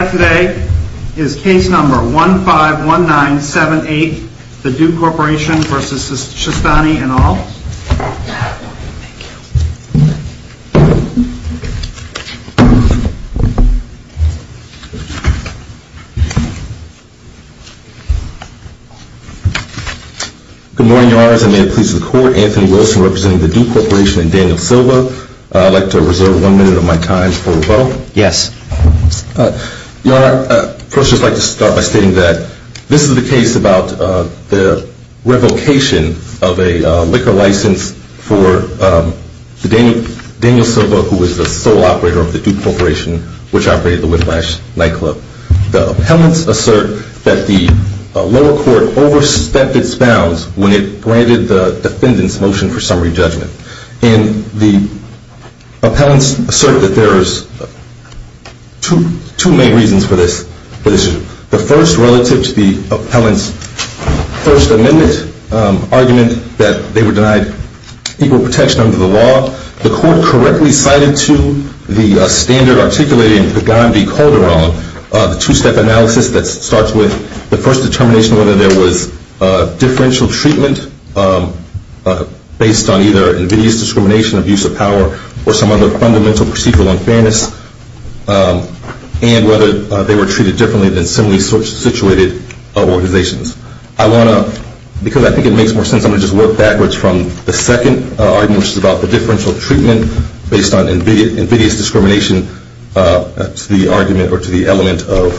Today is case number 151978, the Do Corporation v. Shastany et al. Good morning, your honors. I may it please the court, Anthony Wilson representing the Do Corporation and Daniel Silva. I'd like to reserve one minute of my time for rebuttal. Yes. Your honor, I'd first just like to start by stating that this is the case about the revocation of a liquor license for Daniel Silva, who was the sole operator of the Do Corporation, which operated the Whiplash nightclub. The appellants assert that the lower court overstepped its bounds when it granted the defendant's motion for summary judgment. And the appellants assert that there is two main reasons for this. The first, relative to the appellant's First Amendment argument that they were denied equal protection under the law, the court correctly cited to the standard articulated in Pagan v. Calderon, the two-step analysis that starts with the first determination whether there was differential treatment based on either invidious discrimination, abuse of power, or some other fundamental procedural unfairness, and whether they were treated differently than similarly situated organizations. I want to, because I think it makes more sense, I'm going to just work backwards from the second argument, which is about the differential treatment based on invidious discrimination to the argument or to the element of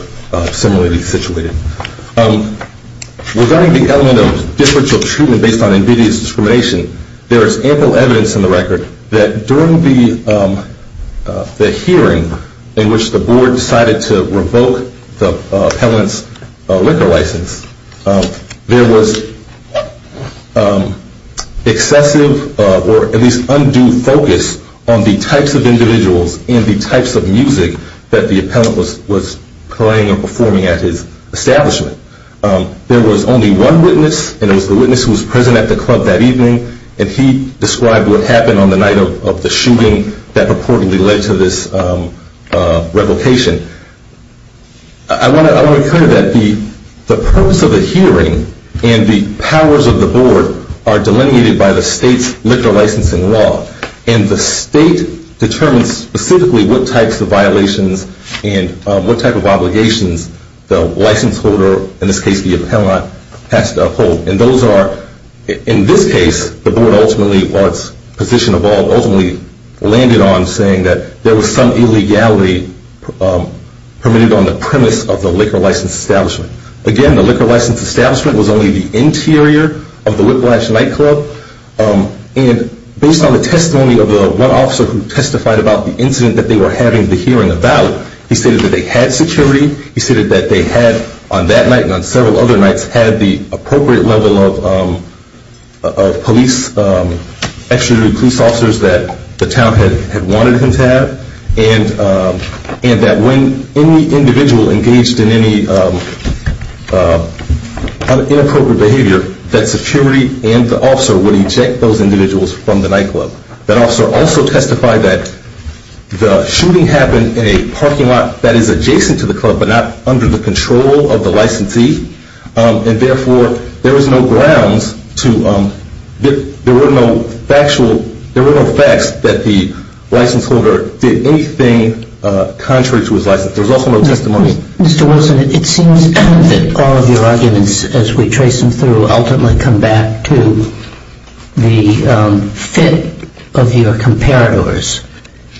similarly situated. Regarding the element of differential treatment based on invidious discrimination, there is ample evidence in the record that during the hearing in which the board decided to revoke the appellant's liquor license, there was excessive or at least undue focus on the types of individuals and the types of music that the appellant was playing or performing at his establishment. There was only one witness, and it was the witness who was present at the club that evening, and he described what happened on the night of the shooting that purportedly led to this revocation. I want to recur to that. The purpose of the hearing and the powers of the board are delineated by the state's liquor licensing law, and the state determines specifically what types of violations and what type of obligations the license holder, in this case the appellant, has to uphold. And those are, in this case, the board ultimately, while its position evolved, ultimately landed on saying that there was some illegality permitted on the premise of the liquor license establishment. Again, the liquor license establishment was only the interior of the Whiplash Nightclub, and based on the testimony of the one officer who testified about the incident that they were having the hearing about, he stated that they had security, he stated that they had, on that night wanted him to have, and that when any individual engaged in any inappropriate behavior, that security and the officer would eject those individuals from the nightclub. That officer also testified that the shooting happened in a parking lot that is adjacent to the club but not under the control of the licensee, and therefore there was no grounds to, there were no factual, there were no facts that the license holder did anything contrary to his license. There was also no testimony. Mr. Wilson, it seems that all of your arguments, as we trace them through, ultimately come back to the fit of your comparators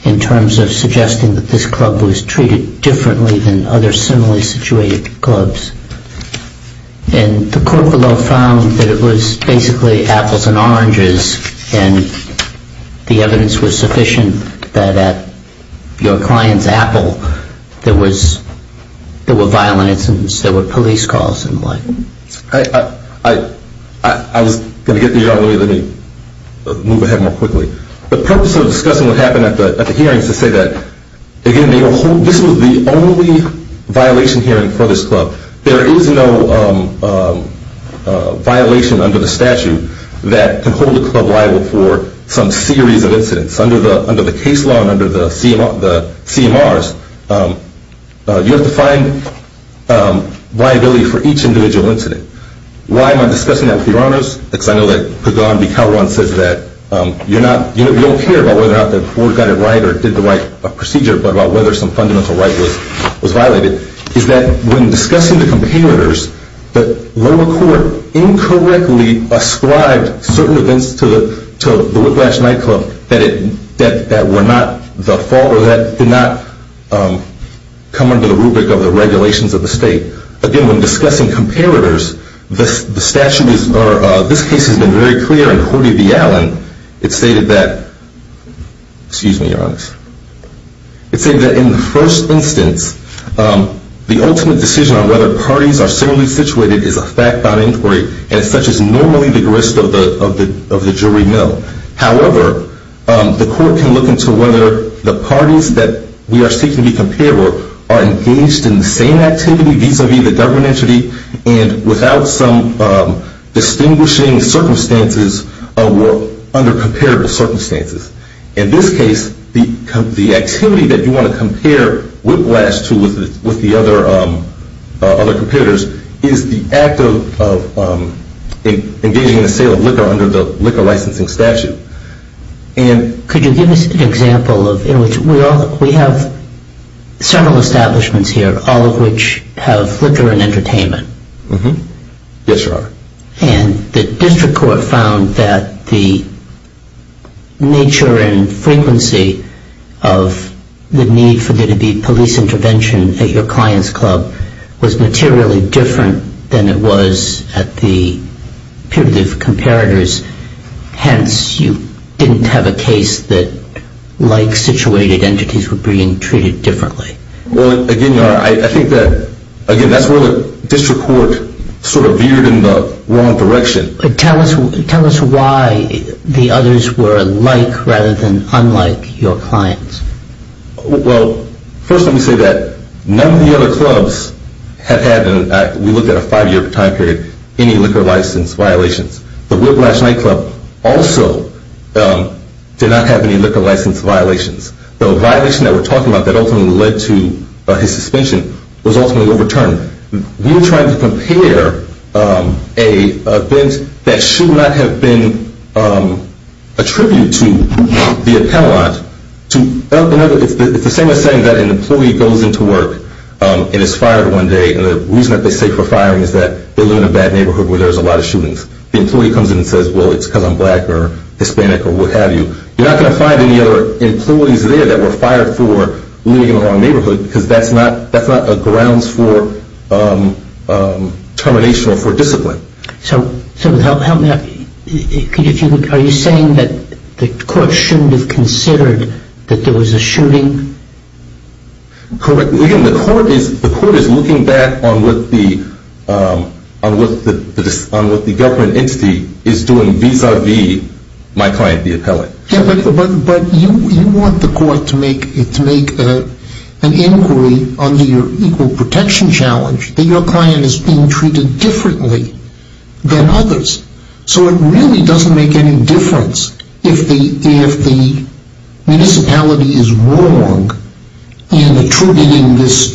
in terms of suggesting that this club was treated differently than other similarly situated clubs. And the court below found that it was basically apples and oranges, and the evidence was sufficient that at your client's apple there was, there were violent incidents, there were police calls and the like. I was going to get to your argument, let me move ahead more quickly. The purpose of discussing what happened at the hearings is to say that, again, this was the only violation hearing for this club. There is no violation under the statute that can hold a club liable for some series of incidents. Under the case law and under the CMRs, you have to find liability for each individual incident. Why am I discussing that with your honors? Because I know that Kagan v. Calderon says that you don't care about whether or not the court got it right or did the right procedure, but about whether some fundamental right was violated, is that when discussing the comparators, the lower court incorrectly ascribed certain events to the Whiplash Nightclub that were not the fault or that did not come under the rubric of the regulations of the state. Again, when discussing comparators, the statute is, or this case has been very clear in Hoody v. Allen. It stated that, excuse me, your honors, it stated that in the first instance, the ultimate decision on whether parties are similarly situated is a fact-bound inquiry, and such is normally the grist of the jury mill. However, the court can look into whether the parties that we are seeking to be comparable are engaged in the same activity vis-a-vis the government entity and without some distinguishing circumstances under comparable circumstances. In this case, the activity that you want to compare Whiplash to with the other comparators is the act of engaging in the sale of liquor under the liquor licensing statute. Could you give us an example? We have several establishments here, all of which have liquor and entertainment. Yes, sir. And the district court found that the nature and frequency of the need for there to be police intervention at your client's club was materially different than it was at the peer-to-peer comparators. Hence, you didn't have a case that like-situated entities were being treated differently. Well, again, your honor, I think that, again, that's where the district court sort of veered in the wrong direction. Tell us why the others were alike rather than unlike your clients. Well, first let me say that none of the other clubs have had, we looked at a five-year time period, any liquor license violations. The Whiplash nightclub also did not have any liquor license violations. The violation that we're talking about that ultimately led to his suspension was ultimately overturned. We were trying to compare an event that should not have been attributed to the appellant to another. It's the same as saying that an employee goes into work and is fired one day, and the reason that they say for firing is that they live in a bad neighborhood where there's a lot of shootings. The employee comes in and says, well, it's because I'm black or Hispanic or what have you. You're not going to find any other employees there that were fired for living in the wrong neighborhood because that's not a grounds for termination or for discipline. So help me out. Are you saying that the court shouldn't have considered that there was a shooting? Correct. The court is looking back on what the government entity is doing vis-a-vis my client, the appellant. But you want the court to make an inquiry under your equal protection challenge that your client is being treated differently than others. So it really doesn't make any difference if the municipality is wrong in attributing this shooting to the appellant.